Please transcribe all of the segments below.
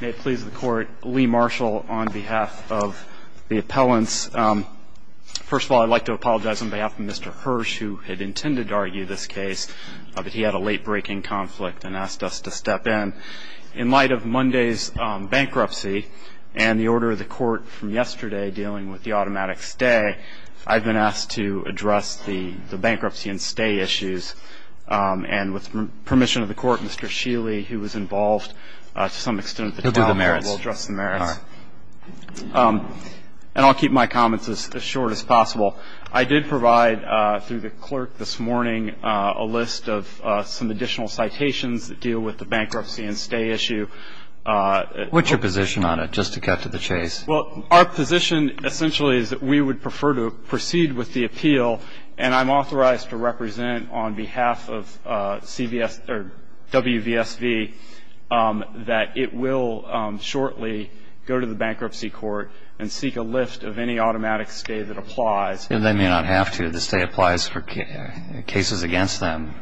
May it please the court, Lee Marshall on behalf of the appellants. First of all, I'd like to apologize on behalf of Mr. Hirsch, who had intended to argue this case, but he had a late-breaking conflict and asked us to step in. In light of Monday's bankruptcy and the order of the court from yesterday dealing with the automatic stay, I've been asked to address the bankruptcy and stay issues. And with permission of the court, Mr. Sheely, who was involved to some extent, will address the merits. And I'll keep my comments as short as possible. I did provide, through the clerk this morning, a list of some additional citations that deal with the bankruptcy and stay issue. What's your position on it, just to cut to the chase? Well, our position essentially is that we would prefer to proceed with the appeal, and I'm authorized to represent on behalf of WVSV that it will shortly go to the bankruptcy court and seek a lift of any automatic stay that applies. They may not have to. The stay applies for cases against them.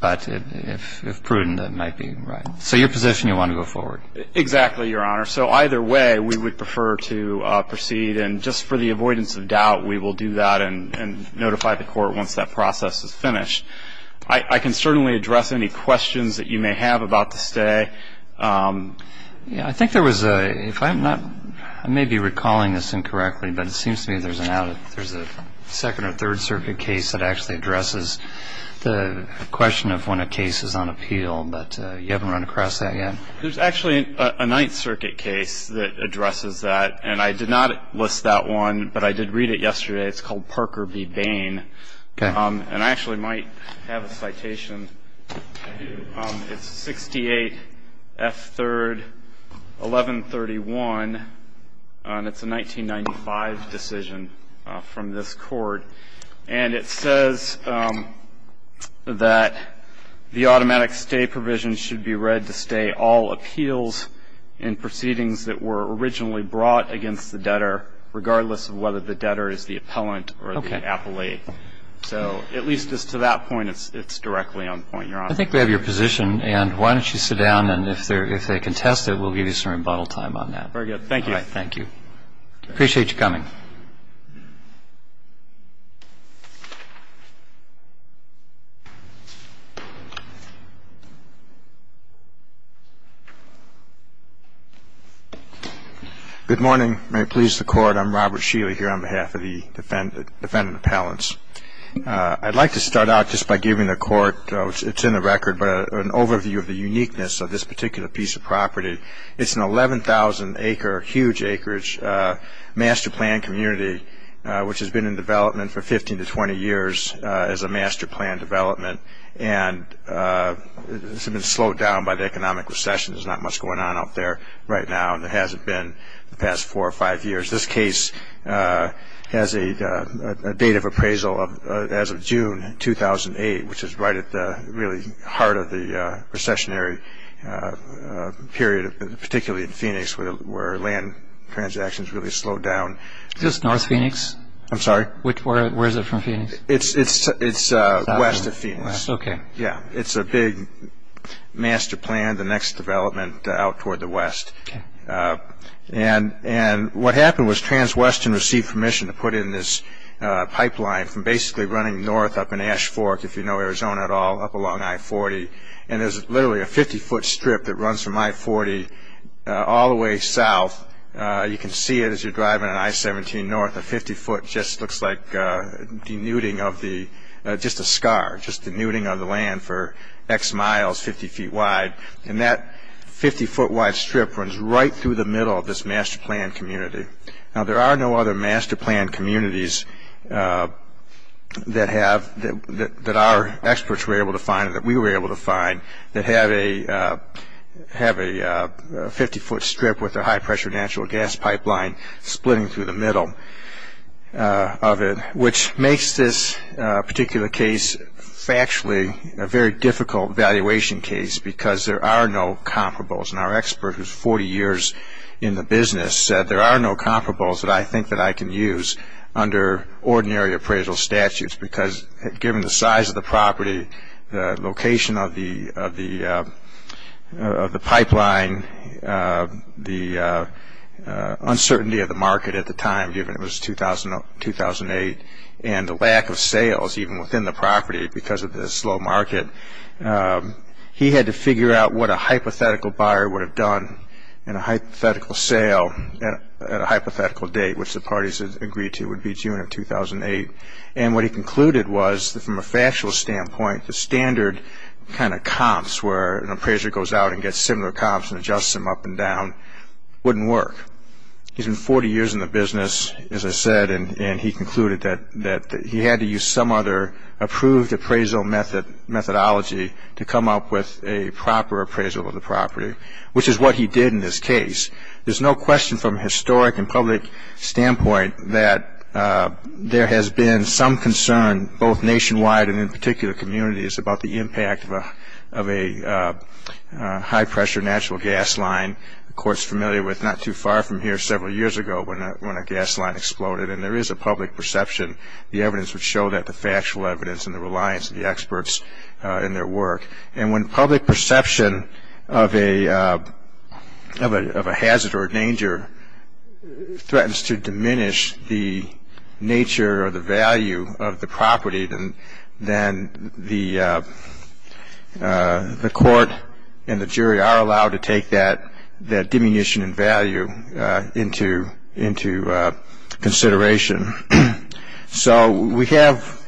But if prudent, that might be right. So your position, you want to go forward? Exactly, Your Honor. So either way, we would prefer to proceed. And just for the avoidance of doubt, we will do that and notify the court once that process is finished. I can certainly address any questions that you may have about the stay. Yeah, I think there was a, if I'm not, I may be recalling this incorrectly, but it seems to me there's a second or third circuit case that actually addresses the question of when a case is on appeal. But you haven't run across that yet? There's actually a ninth circuit case that addresses that. And I did not list that one, but I did read it yesterday. It's called Parker v. Bain. Okay. And I actually might have a citation. It's 68F3-1131, and it's a 1995 decision from this court. And it says that the automatic stay provision should be read to stay all appeals and proceedings that were originally brought against the debtor, regardless of whether the debtor is the appellant or the appellee. Okay. So at least as to that point, it's directly on point, Your Honor. I think we have your position. And why don't you sit down, and if they contest it, we'll give you some rebuttal time on that. Very good. Thank you. Thank you. Appreciate you coming. Thank you. Good morning. May it please the Court, I'm Robert Sheely here on behalf of the defendant appellants. I'd like to start out just by giving the Court, it's in the record, but an overview of the uniqueness of this particular piece of property. It's an 11,000-acre, huge acreage, master plan community, which has been in development for 15 to 20 years as a master plan development. And it's been slowed down by the economic recession. There's not much going on out there right now, and there hasn't been the past four or five years. This case has a date of appraisal as of June 2008, which is right at the really heart of the recessionary period, particularly in Phoenix, where land transactions really slowed down. Is this north Phoenix? I'm sorry? Where is it from, Phoenix? It's west of Phoenix. Okay. Yeah. It's a big master plan, the next development out toward the west. Okay. And what happened was Transwestern received permission to put in this pipeline from basically running north up in Ash Fork, if you know Arizona at all, up along I-40. And there's literally a 50-foot strip that runs from I-40 all the way south. You can see it as you're driving on I-17 north. A 50-foot just looks like denuding of the ‑‑ just a scar, just denuding of the land for X miles, 50 feet wide. And that 50-foot-wide strip runs right through the middle of this master plan community. Now, there are no other master plan communities that our experts were able to find or that we were able to find that have a 50-foot strip with a high-pressure natural gas pipeline splitting through the middle of it, which makes this particular case factually a very difficult valuation case because there are no comparables. And our expert, who's 40 years in the business, said there are no comparables that I think that I can use under ordinary appraisal statutes because given the size of the property, the location of the pipeline, the uncertainty of the market at the time, given it was 2008, and the lack of sales even within the property because of the slow market, he had to figure out what a hypothetical buyer would have done in a hypothetical sale at a hypothetical date, which the parties had agreed to would be June of 2008. And what he concluded was that from a factual standpoint, the standard kind of comps where an appraiser goes out and gets similar comps and adjusts them up and down wouldn't work. He's been 40 years in the business, as I said, and he concluded that he had to use some other approved appraisal methodology to come up with a proper appraisal of the property, which is what he did in this case. There's no question from a historic and public standpoint that there has been some concern both nationwide and in particular communities about the impact of a high-pressure natural gas line. The court's familiar with not too far from here several years ago when a gas line exploded, and there is a public perception. The evidence would show that, the factual evidence and the reliance of the experts in their work. And when public perception of a hazard or danger threatens to diminish the nature or the value of the property, then the court and the jury are allowed to take that diminution in value into consideration. So we have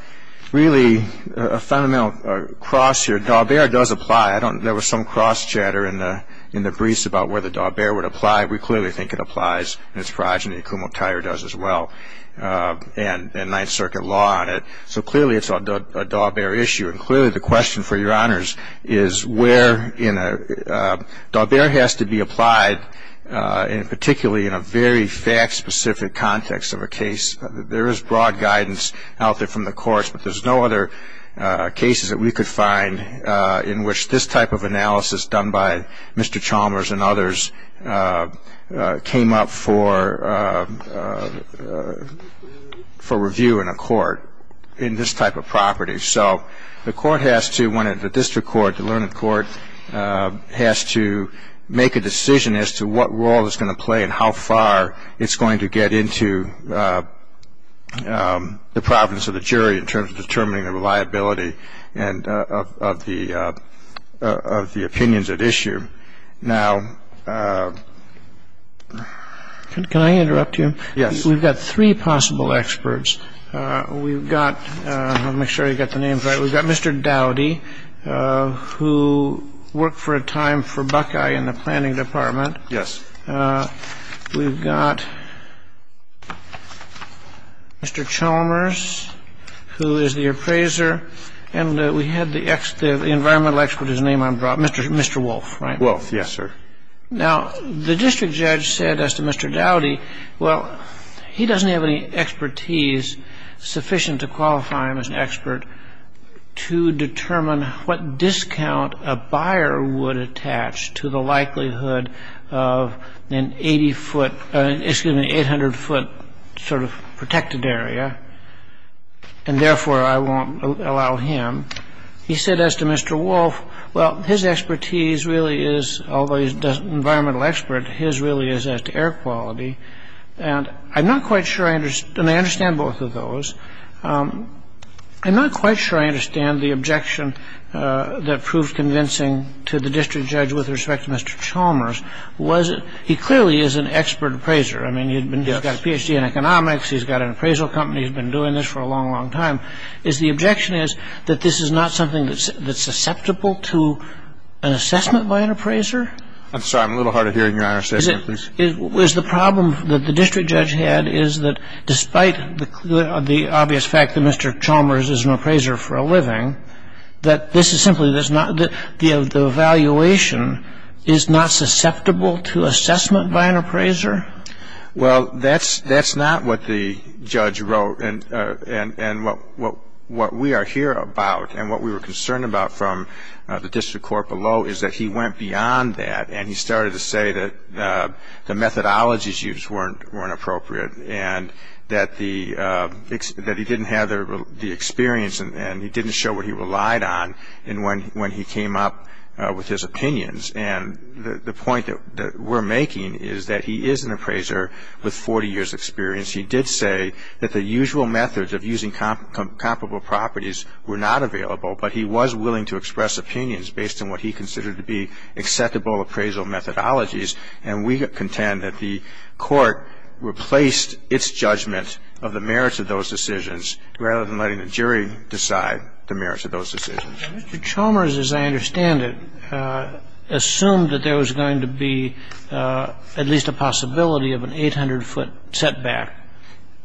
really a fundamental cross here. Daubert does apply. There was some cross-chatter in the briefs about whether Daubert would apply. We clearly think it applies in its progeny. Kumo Tire does as well, and Ninth Circuit law on it. So clearly it's a Daubert issue. And clearly the question for your honors is where in a – Daubert has to be applied particularly in a very fact-specific context of a case. There is broad guidance out there from the courts, but there's no other cases that we could find in which this type of analysis done by Mr. Chalmers and others came up for review in a court in this type of property. So the court has to, when the district court, the learned court, has to make a decision as to what role it's going to play and how far it's going to get into the province of the jury in terms of determining the reliability of the opinions at issue. So, again, I think the question for your honors is where in a – And clearly the question for your honors is where in a – And clearly the question for your honors is where in a – can I interrupt you? Yes. We've got three possible experts. We've got – let me make sure I've got the names right. We've got Mr. Dowdy, who worked for a time for Buckeye in the planning department. Yes. We've got Mr. Chalmers, who is the appraiser. And we had the environmental expert, his name I'm – Mr. Wolfe, right? Wolfe, yes, sir. Now, the district judge said as to Mr. Dowdy, well, he doesn't have any expertise sufficient to qualify him as an expert to determine what discount a buyer would attach to the likelihood of an 80-foot – excuse me, 800-foot sort of protected area, and therefore I won't allow him. He said as to Mr. Wolfe, well, his expertise really is – environmental expert, his really is as to air quality. And I'm not quite sure I – and I understand both of those. I'm not quite sure I understand the objection that proves convincing to the district judge with respect to Mr. Chalmers was he clearly is an expert appraiser. I mean, he's got a Ph.D. in economics. He's got an appraisal company. He's been doing this for a long, long time. The objection is that this is not something that's susceptible to an assessment by an appraiser. I'm sorry. I'm a little hard of hearing, Your Honor. Say that again, please. The problem that the district judge had is that despite the obvious fact that Mr. Chalmers is an appraiser for a living, that this is simply – the evaluation is not susceptible to assessment by an appraiser? Well, that's not what the judge wrote. And what we are here about and what we were concerned about from the district court below is that he went beyond that and he started to say that the methodologies used weren't appropriate and that he didn't have the experience and he didn't show what he relied on when he came up with his opinions. And the point that we're making is that he is an appraiser with 40 years' experience. He did say that the usual methods of using comparable properties were not available, but he was willing to express opinions based on what he considered to be acceptable appraisal methodologies. And we contend that the court replaced its judgment of the merits of those decisions rather than letting the jury decide the merits of those decisions. Mr. Chalmers, as I understand it, assumed that there was going to be at least a possibility of an 800-foot setback.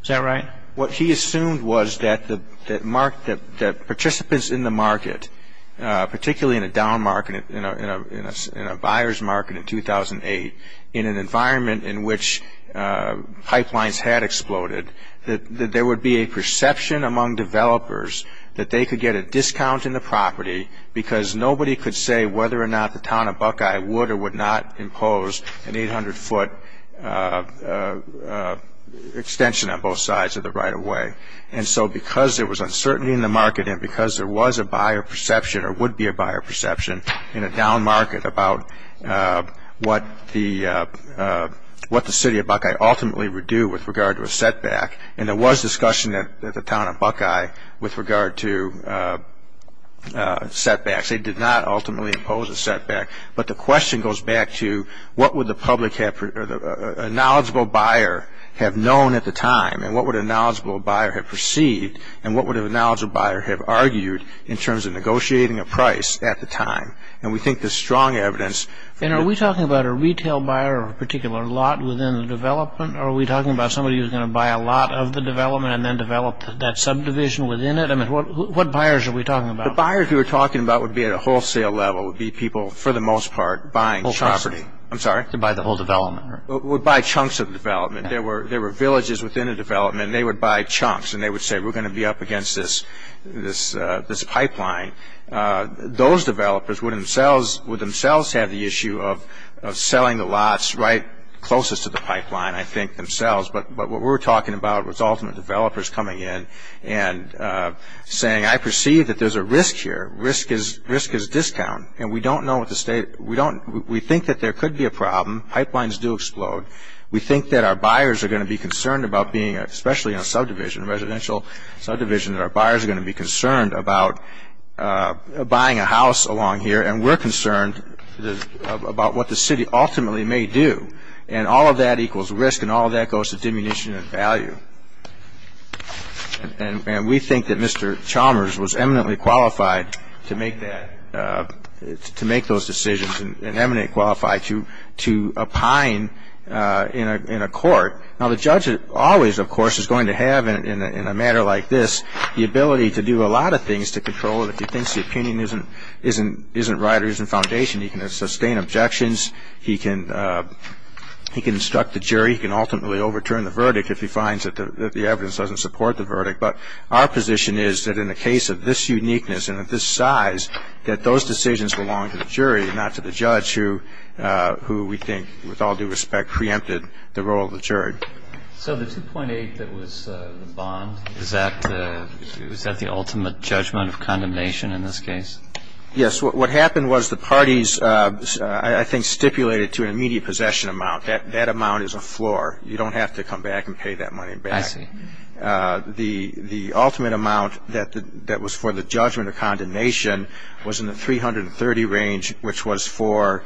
Is that right? What he assumed was that participants in the market, particularly in a down market, in a buyer's market in 2008, in an environment in which pipelines had exploded, that there would be a perception among developers that they could get a discount in the property because nobody could say whether or not the town of Buckeye would or would not impose an 800-foot extension on both sides of the right-of-way. And so because there was uncertainty in the market and because there was a buyer perception or would be a buyer perception in a down market about what the city of Buckeye ultimately would do with regard to a setback. And there was discussion at the town of Buckeye with regard to setbacks. They did not ultimately impose a setback. But the question goes back to what would a knowledgeable buyer have known at the time and what would a knowledgeable buyer have perceived and what would a knowledgeable buyer have argued in terms of negotiating a price at the time. And we think there's strong evidence. And are we talking about a retail buyer or a particular lot within the development or are we talking about somebody who's going to buy a lot of the development and then develop that subdivision within it? I mean, what buyers are we talking about? The buyers we were talking about would be at a wholesale level, would be people, for the most part, buying property. I'm sorry? To buy the whole development. Would buy chunks of development. There were villages within a development and they would buy chunks and they would say, we're going to be up against this pipeline. Those developers would themselves have the issue of selling the lots right closest to the pipeline, I think, themselves. But what we're talking about was ultimate developers coming in and saying, I perceive that there's a risk here. Risk is discount. And we think that there could be a problem. Pipelines do explode. We think that our buyers are going to be concerned about being, especially in a subdivision, a residential subdivision, that our buyers are going to be concerned about buying a house along here, and we're concerned about what the city ultimately may do. And all of that equals risk and all of that goes to diminution in value. And we think that Mr. Chalmers was eminently qualified to make that, to make those decisions and eminently qualified to opine in a court. Now, the judge always, of course, is going to have, in a matter like this, the ability to do a lot of things to control it. If he thinks the opinion isn't right or isn't foundation, he can sustain objections. He can instruct the jury. He can ultimately overturn the verdict if he finds that the evidence doesn't support the verdict. But our position is that in a case of this uniqueness and of this size, that those decisions belong to the jury, not to the judge, who we think, with all due respect, preempted the role of the jury. So the 2.8 that was the bond, is that the ultimate judgment of condemnation in this case? Yes. What happened was the parties, I think, stipulated to an immediate possession amount. That amount is a floor. You don't have to come back and pay that money back. I see. The ultimate amount that was for the judgment of condemnation was in the 330 range, which was for,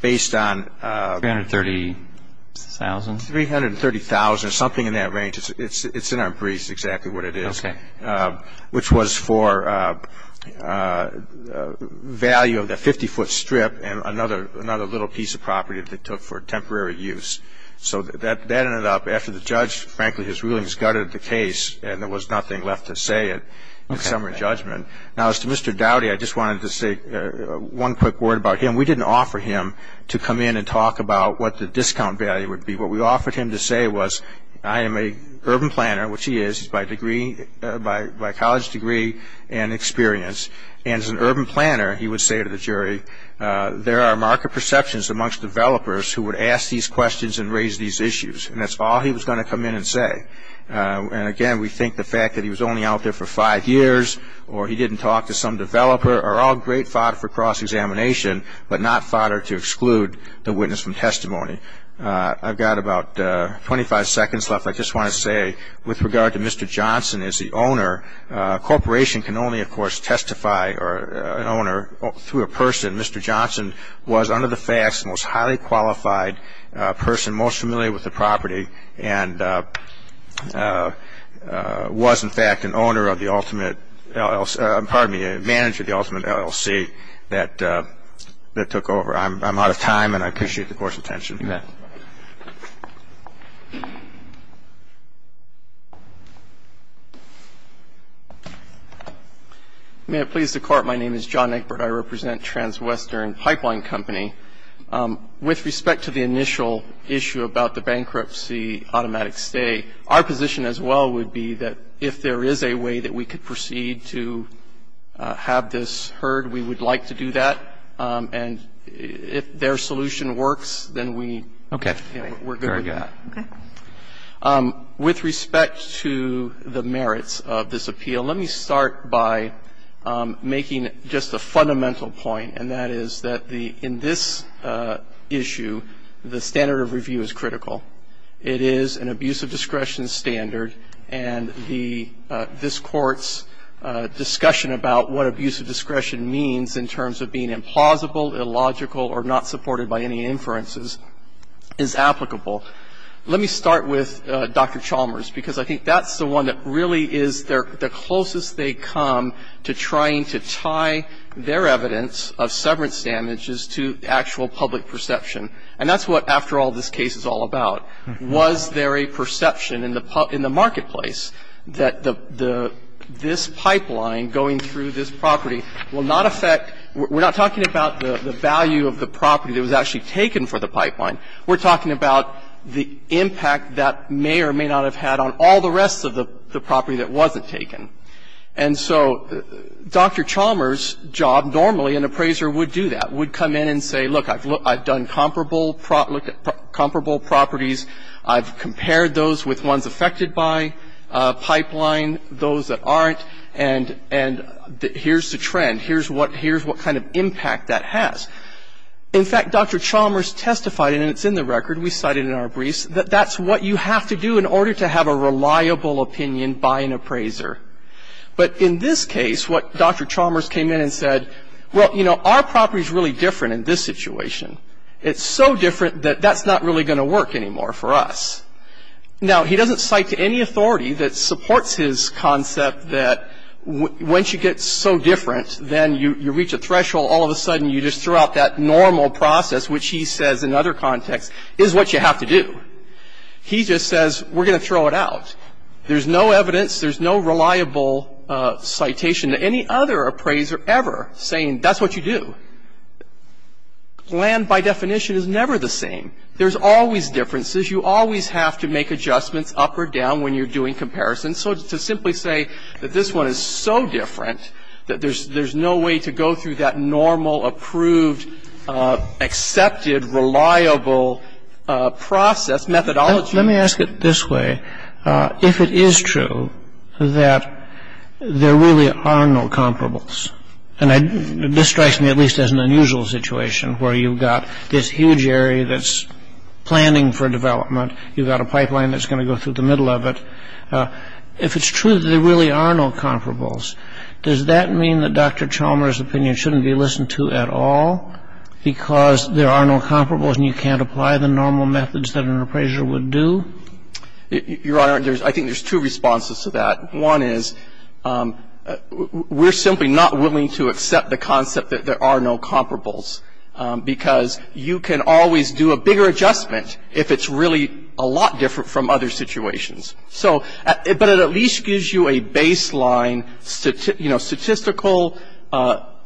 based on- 330,000? 330,000, something in that range. It's in our briefs, exactly what it is. Okay. Which was for value of the 50-foot strip and another little piece of property that they took for temporary use. So that ended up, after the judge, frankly, his rulings gutted the case, and there was nothing left to say in summer judgment. Now, as to Mr. Dowdy, I just wanted to say one quick word about him. We didn't offer him to come in and talk about what the discount value would be. What we offered him to say was, I am an urban planner, which he is. He's by college degree and experience. And as an urban planner, he would say to the jury, there are market perceptions amongst developers who would ask these questions and raise these issues. And that's all he was going to come in and say. And, again, we think the fact that he was only out there for five years or he didn't talk to some developer are all great fodder for cross-examination, but not fodder to exclude the witness from testimony. I've got about 25 seconds left. I just want to say, with regard to Mr. Johnson as the owner, a corporation can only, of course, testify an owner through a person. Mr. Johnson was, under the facts, the most highly qualified person, most familiar with the property, and was, in fact, an owner of the ultimate LLC – pardon me, a manager of the ultimate LLC that took over. I'm out of time, and I appreciate the court's attention. You bet. May it please the Court, my name is John Eckbert. I represent Transwestern Pipeline Company. With respect to the initial issue about the bankruptcy automatic stay, our position as well would be that if there is a way that we could proceed to have this heard, we would like to do that. And if their solution works, then we – Okay. Very good. Okay. With respect to the merits of this appeal, let me start by making just a fundamental point, and that is that the – in this issue, the standard of review is critical. It is an abuse of discretion standard, and the – this Court's discussion about what abuse of discretion means in terms of being implausible, illogical, or not supported by any inferences is applicable. Let me start with Dr. Chalmers, because I think that's the one that really is the closest they come to trying to tie their evidence of severance damages to actual public perception. And that's what, after all, this case is all about. Was there a perception in the marketplace that this pipeline going through this property will not affect – we're not talking about the value of the property that was actually taken for the pipeline. We're talking about the impact that may or may not have had on all the rest of the company. And so Dr. Chalmers' job normally, an appraiser would do that, would come in and say, look, I've done comparable properties. I've compared those with ones affected by pipeline, those that aren't, and here's the trend. Here's what kind of impact that has. In fact, Dr. Chalmers testified, and it's in the record, we cite it in our briefs, that that's what you have to do in order to have a reliable opinion by an appraiser. But in this case, what Dr. Chalmers came in and said, well, you know, our property is really different in this situation. It's so different that that's not really going to work anymore for us. Now, he doesn't cite any authority that supports his concept that once you get so different, then you reach a threshold, all of a sudden you just throw out that normal process, which he says, in other contexts, is what you have to do. He just says, we're going to throw it out. There's no evidence, there's no reliable citation to any other appraiser ever saying that's what you do. Land, by definition, is never the same. There's always differences. You always have to make adjustments up or down when you're doing comparisons. So to simply say that this one is so different that there's no way to go through that normal, approved, accepted, reliable process, methodology. Let me ask it this way. If it is true that there really are no comparables, and this strikes me at least as an unusual situation where you've got this huge area that's planning for development, you've got a pipeline that's going to go through the middle of it. If it's true that there really are no comparables, does that mean that Dr. Chalmers' opinion shouldn't be listened to at all because there are no comparables and you can't apply the normal methods that an appraiser would do? Your Honor, I think there's two responses to that. One is we're simply not willing to accept the concept that there are no comparables because you can always do a bigger adjustment if it's really a lot different from other situations. So, but it at least gives you a baseline statistical,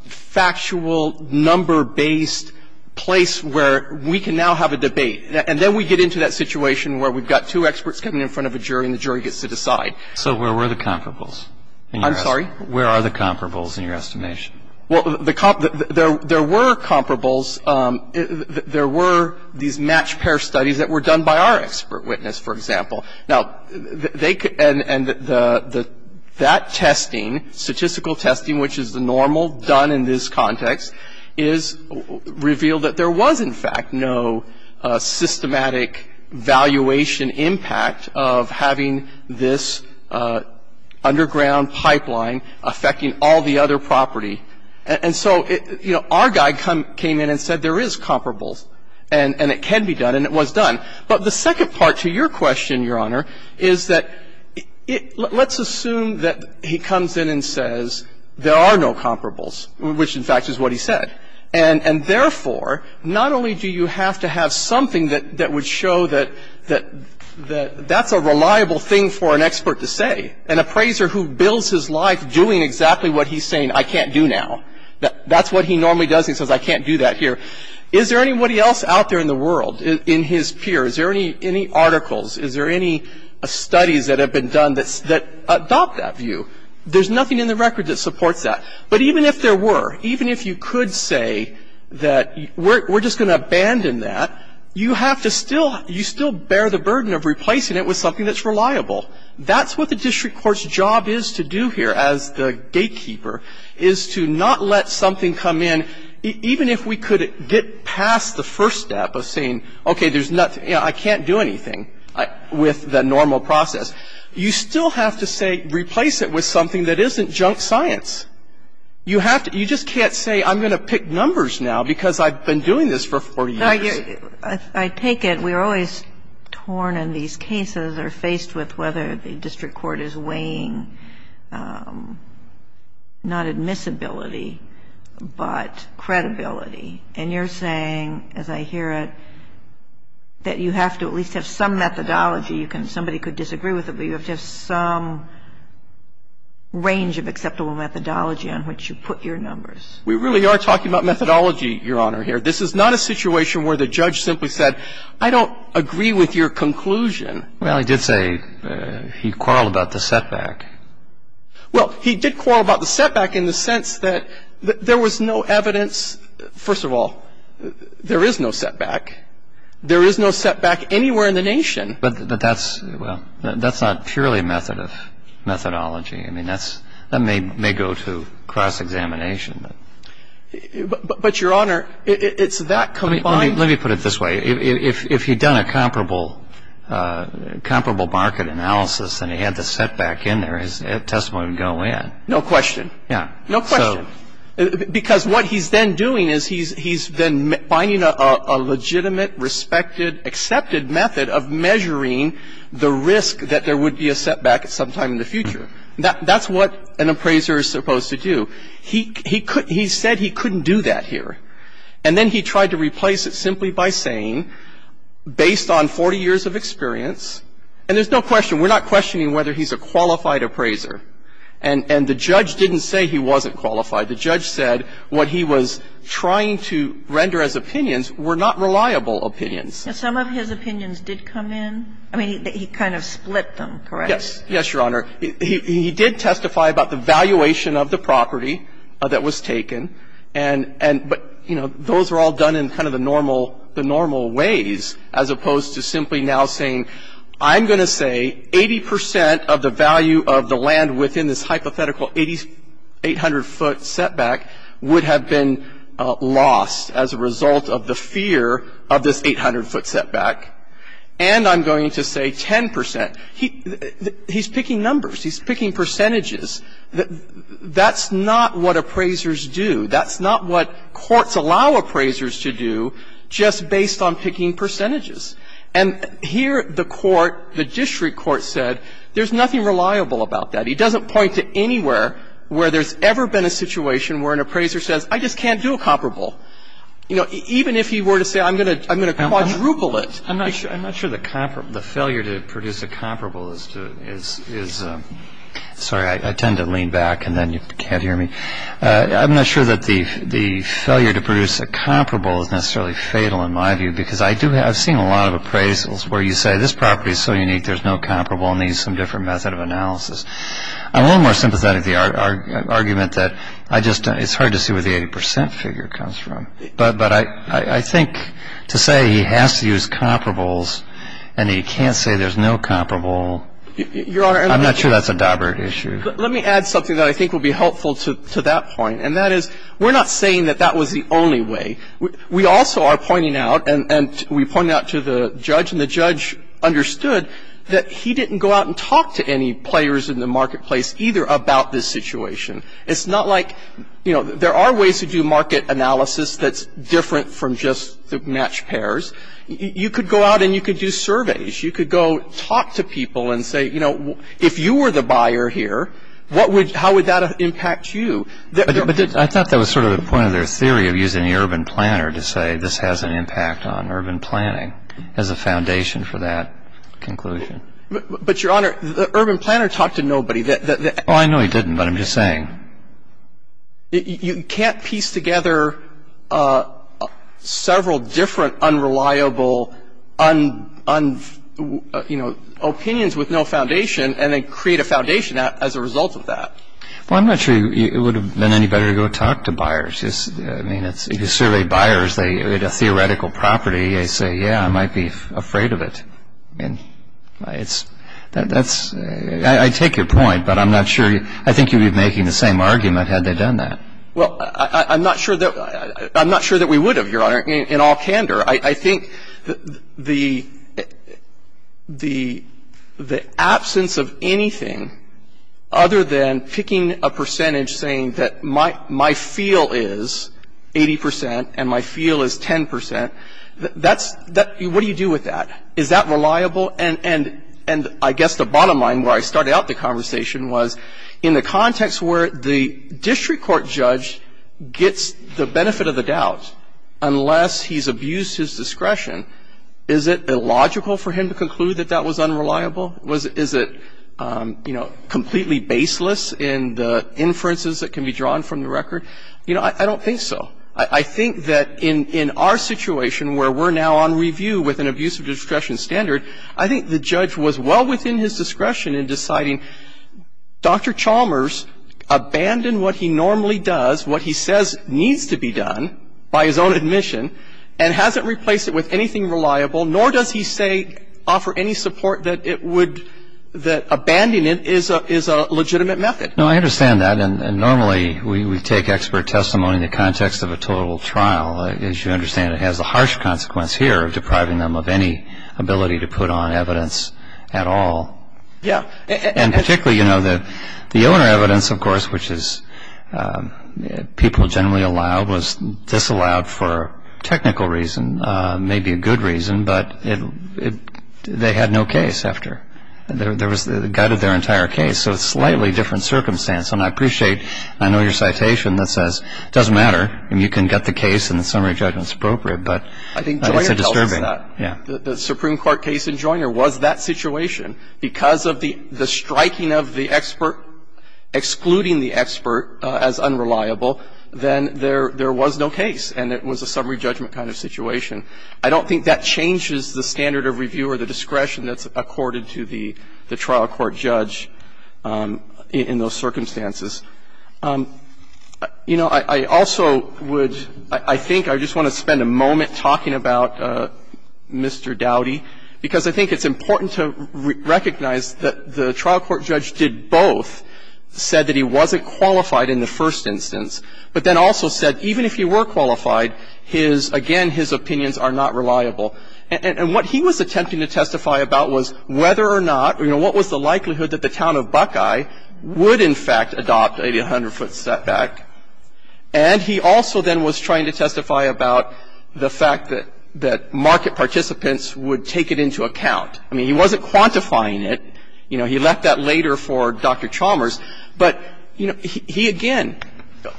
factual, number-based place where we can now have a debate. And then we get into that situation where we've got two experts coming in front of a jury and the jury gets to decide. So where were the comparables? I'm sorry? Where are the comparables in your estimation? Well, there were comparables. There were these matched pair studies that were done by our expert witness, for example. Now, they could, and that testing, statistical testing, which is the normal done in this context, is revealed that there was in fact no systematic valuation impact of having this underground pipeline affecting all the other property. And so, you know, our guy came in and said there is comparables and it can be done and it was done. But the second part to your question, Your Honor, is that let's assume that he comes in and says there are no comparables, which in fact is what he said. And therefore, not only do you have to have something that would show that that's a reliable thing for an expert to say, an appraiser who builds his life doing exactly what he's saying I can't do now, that's what he normally does, he says I can't do that here, is there anybody else out there in the world, in his peer, is there any articles, is there any studies that have been done that adopt that view? There's nothing in the record that supports that. But even if there were, even if you could say that we're just going to abandon that, you have to still, you still bear the burden of replacing it with something that's reliable. That's what the district court's job is to do here as the gatekeeper, is to not let something come in, even if we could get past the first step of saying, okay, there's nothing, you know, I can't do anything with the normal process. You still have to say replace it with something that isn't junk science. You have to, you just can't say I'm going to pick numbers now because I've been doing this for 40 years. I take it we're always torn in these cases or faced with whether the district court is weighing not admissibility, but credibility. And you're saying, as I hear it, that you have to at least have some methodology, you can, somebody could disagree with it, but you have to have some range of acceptable methodology on which you put your numbers. We really are talking about methodology, Your Honor, here. This is not a situation where the judge simply said, I don't agree with your conclusion. Well, he did say he quarreled about the setback. Well, he did quarrel about the setback in the sense that there was no evidence. First of all, there is no setback. There is no setback anywhere in the nation. But that's, well, that's not purely a method of methodology. I mean, that's, that may go to cross-examination. But, Your Honor, it's that combined. Let me put it this way. If he'd done a comparable market analysis and he had the setback in there, his testimony would go in. No question. Yeah. No question. Because what he's then doing is he's then finding a legitimate, respected, accepted method of measuring the risk that there would be a setback at some time in the future. That's what an appraiser is supposed to do. He could, he said he couldn't do that here. And then he tried to replace it simply by saying, based on 40 years of experience and there's no question, we're not questioning whether he's a qualified appraiser. And the judge didn't say he wasn't qualified. The judge said what he was trying to render as opinions were not reliable opinions. And some of his opinions did come in? I mean, he kind of split them, correct? Yes. Yes, Your Honor. He did testify about the valuation of the property that was taken. And, but, you know, those were all done in kind of the normal ways as opposed to simply now saying, I'm going to say 80 percent of the value of the land within this hypothetical 800-foot setback would have been lost as a result of the fear of this 800-foot setback. And I'm going to say 10 percent. He's picking numbers. He's picking percentages. That's not what appraisers do. That's not what courts allow appraisers to do just based on picking percentages. And here the court, the district court said there's nothing reliable about that. He doesn't point to anywhere where there's ever been a situation where an appraiser says I just can't do a comparable. You know, even if he were to say I'm going to quadruple it. I'm not sure the failure to produce a comparable is, sorry, I tend to lean back and then you can't hear me. I'm not sure that the failure to produce a comparable is necessarily fatal in my view because I've seen a lot of appraisals where you say this property is so unique there's no comparable and needs some different method of analysis. I'm a little more sympathetic to the argument that I just, it's hard to see where the 80 percent figure comes from. But I think to say he has to use comparables and he can't say there's no comparable, I'm not sure that's a Dobbert issue. Let me add something that I think would be helpful to that point. And that is we're not saying that that was the only way. We also are pointing out and we point out to the judge and the judge understood that he didn't go out and talk to any players in the marketplace either about this situation. It's not like, you know, there are ways to do market analysis that's different from just the match pairs. You could go out and you could do surveys. You could go talk to people and say, you know, if you were the buyer here, how would that impact you? But I thought that was sort of the point of their theory of using the urban planner to say this has an impact on urban planning as a foundation for that conclusion. Oh, I know he didn't, but I'm just saying. You can't piece together several different unreliable, you know, opinions with no foundation and then create a foundation as a result of that. Well, I'm not sure it would have been any better to go talk to buyers. I mean, if you survey buyers at a theoretical property, they say, yeah, I might be afraid of it. I mean, that's — I take your point, but I'm not sure — I think you'd be making the same argument had they done that. Well, I'm not sure that we would have, Your Honor, in all candor. I think the absence of anything other than picking a percentage saying that my feel is 80 percent and my feel is 10 percent, that's — what do you do with that? Is that reliable? And I guess the bottom line where I started out the conversation was in the context where the district court judge gets the benefit of the doubt, unless he's abused his discretion, is it illogical for him to conclude that that was unreliable? Is it, you know, completely baseless in the inferences that can be drawn from the record? You know, I don't think so. I think that in our situation where we're now on review with an abusive discretion standard, I think the judge was well within his discretion in deciding, Dr. Chalmers abandoned what he normally does, what he says needs to be done by his own admission, and hasn't replaced it with anything reliable, nor does he say — offer any support that it would — that abandoning it is a legitimate method. No, I understand that, and normally we take expert testimony in the context of a total trial. As you understand, it has the harsh consequence here of depriving them of any ability to put on evidence at all. Yeah. And particularly, you know, the owner evidence, of course, which is people generally allowed, was disallowed for a technical reason, maybe a good reason, but they had no case after. There was the gut of their entire case, so it's a slightly different circumstance. And I appreciate — I know your citation that says it doesn't matter, and you can get the case and the summary judgment is appropriate, but it's a disturbing — I think Joyner tells us that. Yeah. The Supreme Court case in Joyner was that situation. Because of the striking of the expert, excluding the expert as unreliable, then there was no case, and it was a summary judgment kind of situation. I don't think that changes the standard of review or the discretion that's accorded to the trial court judge in those circumstances. You know, I also would — I think I just want to spend a moment talking about Mr. Dowdy, because I think it's important to recognize that the trial court judge did both, said that he wasn't qualified in the first instance, but then also said even if he were qualified, his — again, his opinions are not reliable. And what he was attempting to testify about was whether or not, you know, what was the likelihood that the town of Buckeye would, in fact, adopt a 100-foot setback. And he also then was trying to testify about the fact that market participants would take it into account. I mean, he wasn't quantifying it. You know, he left that later for Dr. Chalmers. But, you know, he again,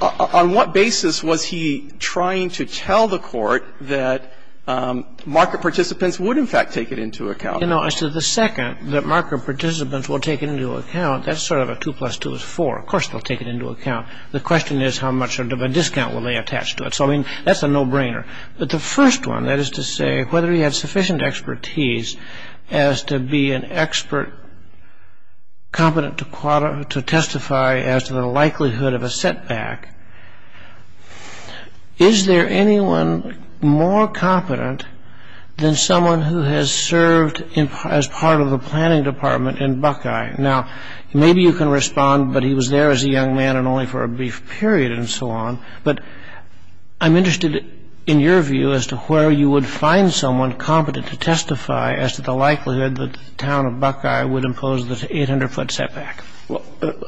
on what basis was he trying to tell the Court that market participants would, in fact, take it into account? You know, as to the second, that market participants will take it into account, that's sort of a two plus two is four. Of course they'll take it into account. The question is how much of a discount will they attach to it. So, I mean, that's a no-brainer. But the first one, that is to say whether he had sufficient expertise as to be an expert competent to testify as to the likelihood of a setback. Is there anyone more competent than someone who has served as part of the planning department in Buckeye? Now, maybe you can respond, but he was there as a young man and only for a brief period and so on. But I'm interested in your view as to where you would find someone competent to testify as to the likelihood that the town of Buckeye would impose this 800-foot setback.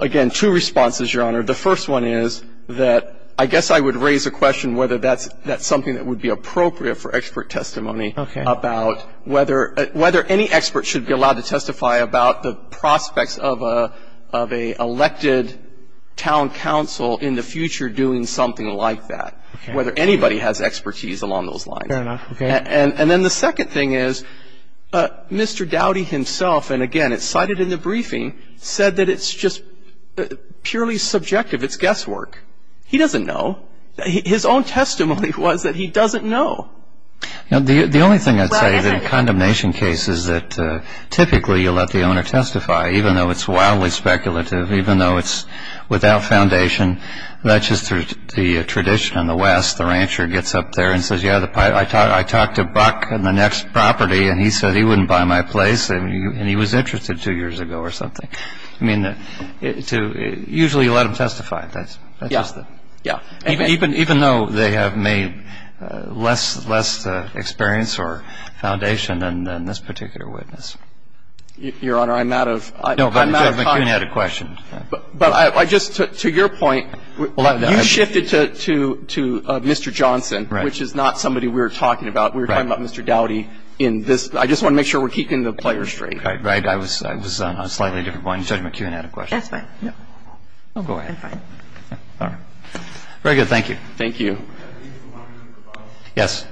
Again, two responses, Your Honor. The first one is that I guess I would raise a question whether that's something that would be appropriate for expert testimony. Okay. About whether any expert should be allowed to testify about the prospects of an elected town council in the future doing something like that, whether anybody has expertise along those lines. Fair enough. Okay. And then the second thing is Mr. Dowdy himself, and again, it's cited in the briefing, said that it's just purely subjective. It's guesswork. He doesn't know. His own testimony was that he doesn't know. The only thing I'd say is that in condemnation cases that typically you let the owner testify, even though it's wildly speculative, even though it's without foundation, that's just the tradition in the West. The rancher gets up there and says, yeah, I talked to Buck on the next property, and he said he wouldn't buy my place, and he was interested two years ago or something. I mean, usually you let them testify. That's just it. Yeah. Even though they have made less experience or foundation than this particular witness. Your Honor, I'm out of time. No, but Judge McKeown had a question. But I just, to your point, you shifted to Mr. Johnson, which is not somebody we were talking about. We were talking about Mr. Dowdy in this. I just want to make sure we're keeping the player straight. Right. I was on a slightly different point. Judge McKeown had a question. That's fine. Go ahead. I'm fine. All right. Very good. Thank you. Thank you. Yes.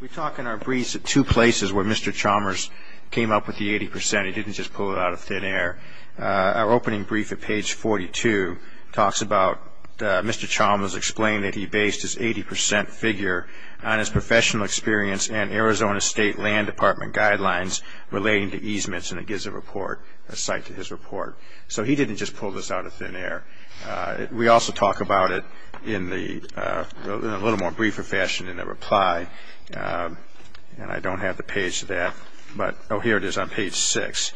We talk in our briefs at two places where Mr. Chalmers came up with the 80 percent. He didn't just pull it out of thin air. Our opening brief at page 42 talks about Mr. Chalmers explained that he based his 80 percent figure on his professional experience and Arizona State Land Department guidelines relating to easements, and it gives a report, a cite to his report. We also talk about it in a little more briefer fashion in a reply, and I don't have the page to that. But, oh, here it is on page 6.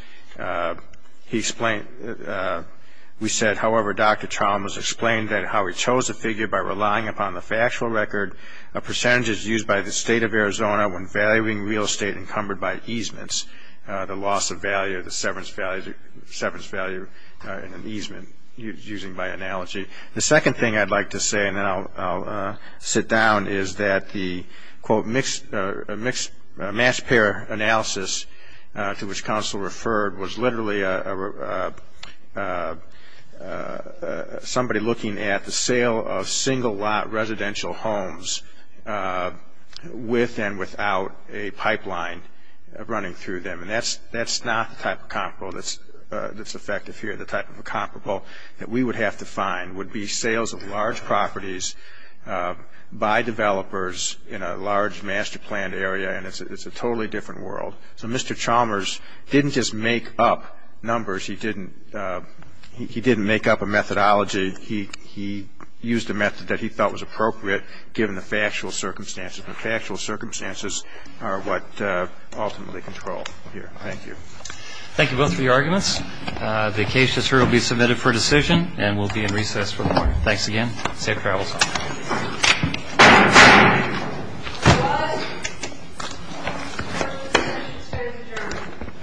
We said, however, Dr. Chalmers explained that how he chose a figure by relying upon the factual record, a percentage is used by the State of Arizona when valuing real estate encumbered by easements, the loss of value, the severance value in an easement, using by analogy. The second thing I'd like to say, and then I'll sit down, is that the, quote, mixed mass pair analysis to which counsel referred was literally somebody looking at the sale of single lot residential homes with and without a pipeline running through them. And that's not the type of comparable that's effective here. The type of comparable that we would have to find would be sales of large properties by developers in a large master-planned area, and it's a totally different world. So Mr. Chalmers didn't just make up numbers. He didn't make up a methodology. He used a method that he felt was appropriate given the factual circumstances, and factual circumstances are what ultimately control here. Thank you. Thank you both for your arguments. The case will be submitted for decision and will be in recess for the morning. Thanks again. Safe travels.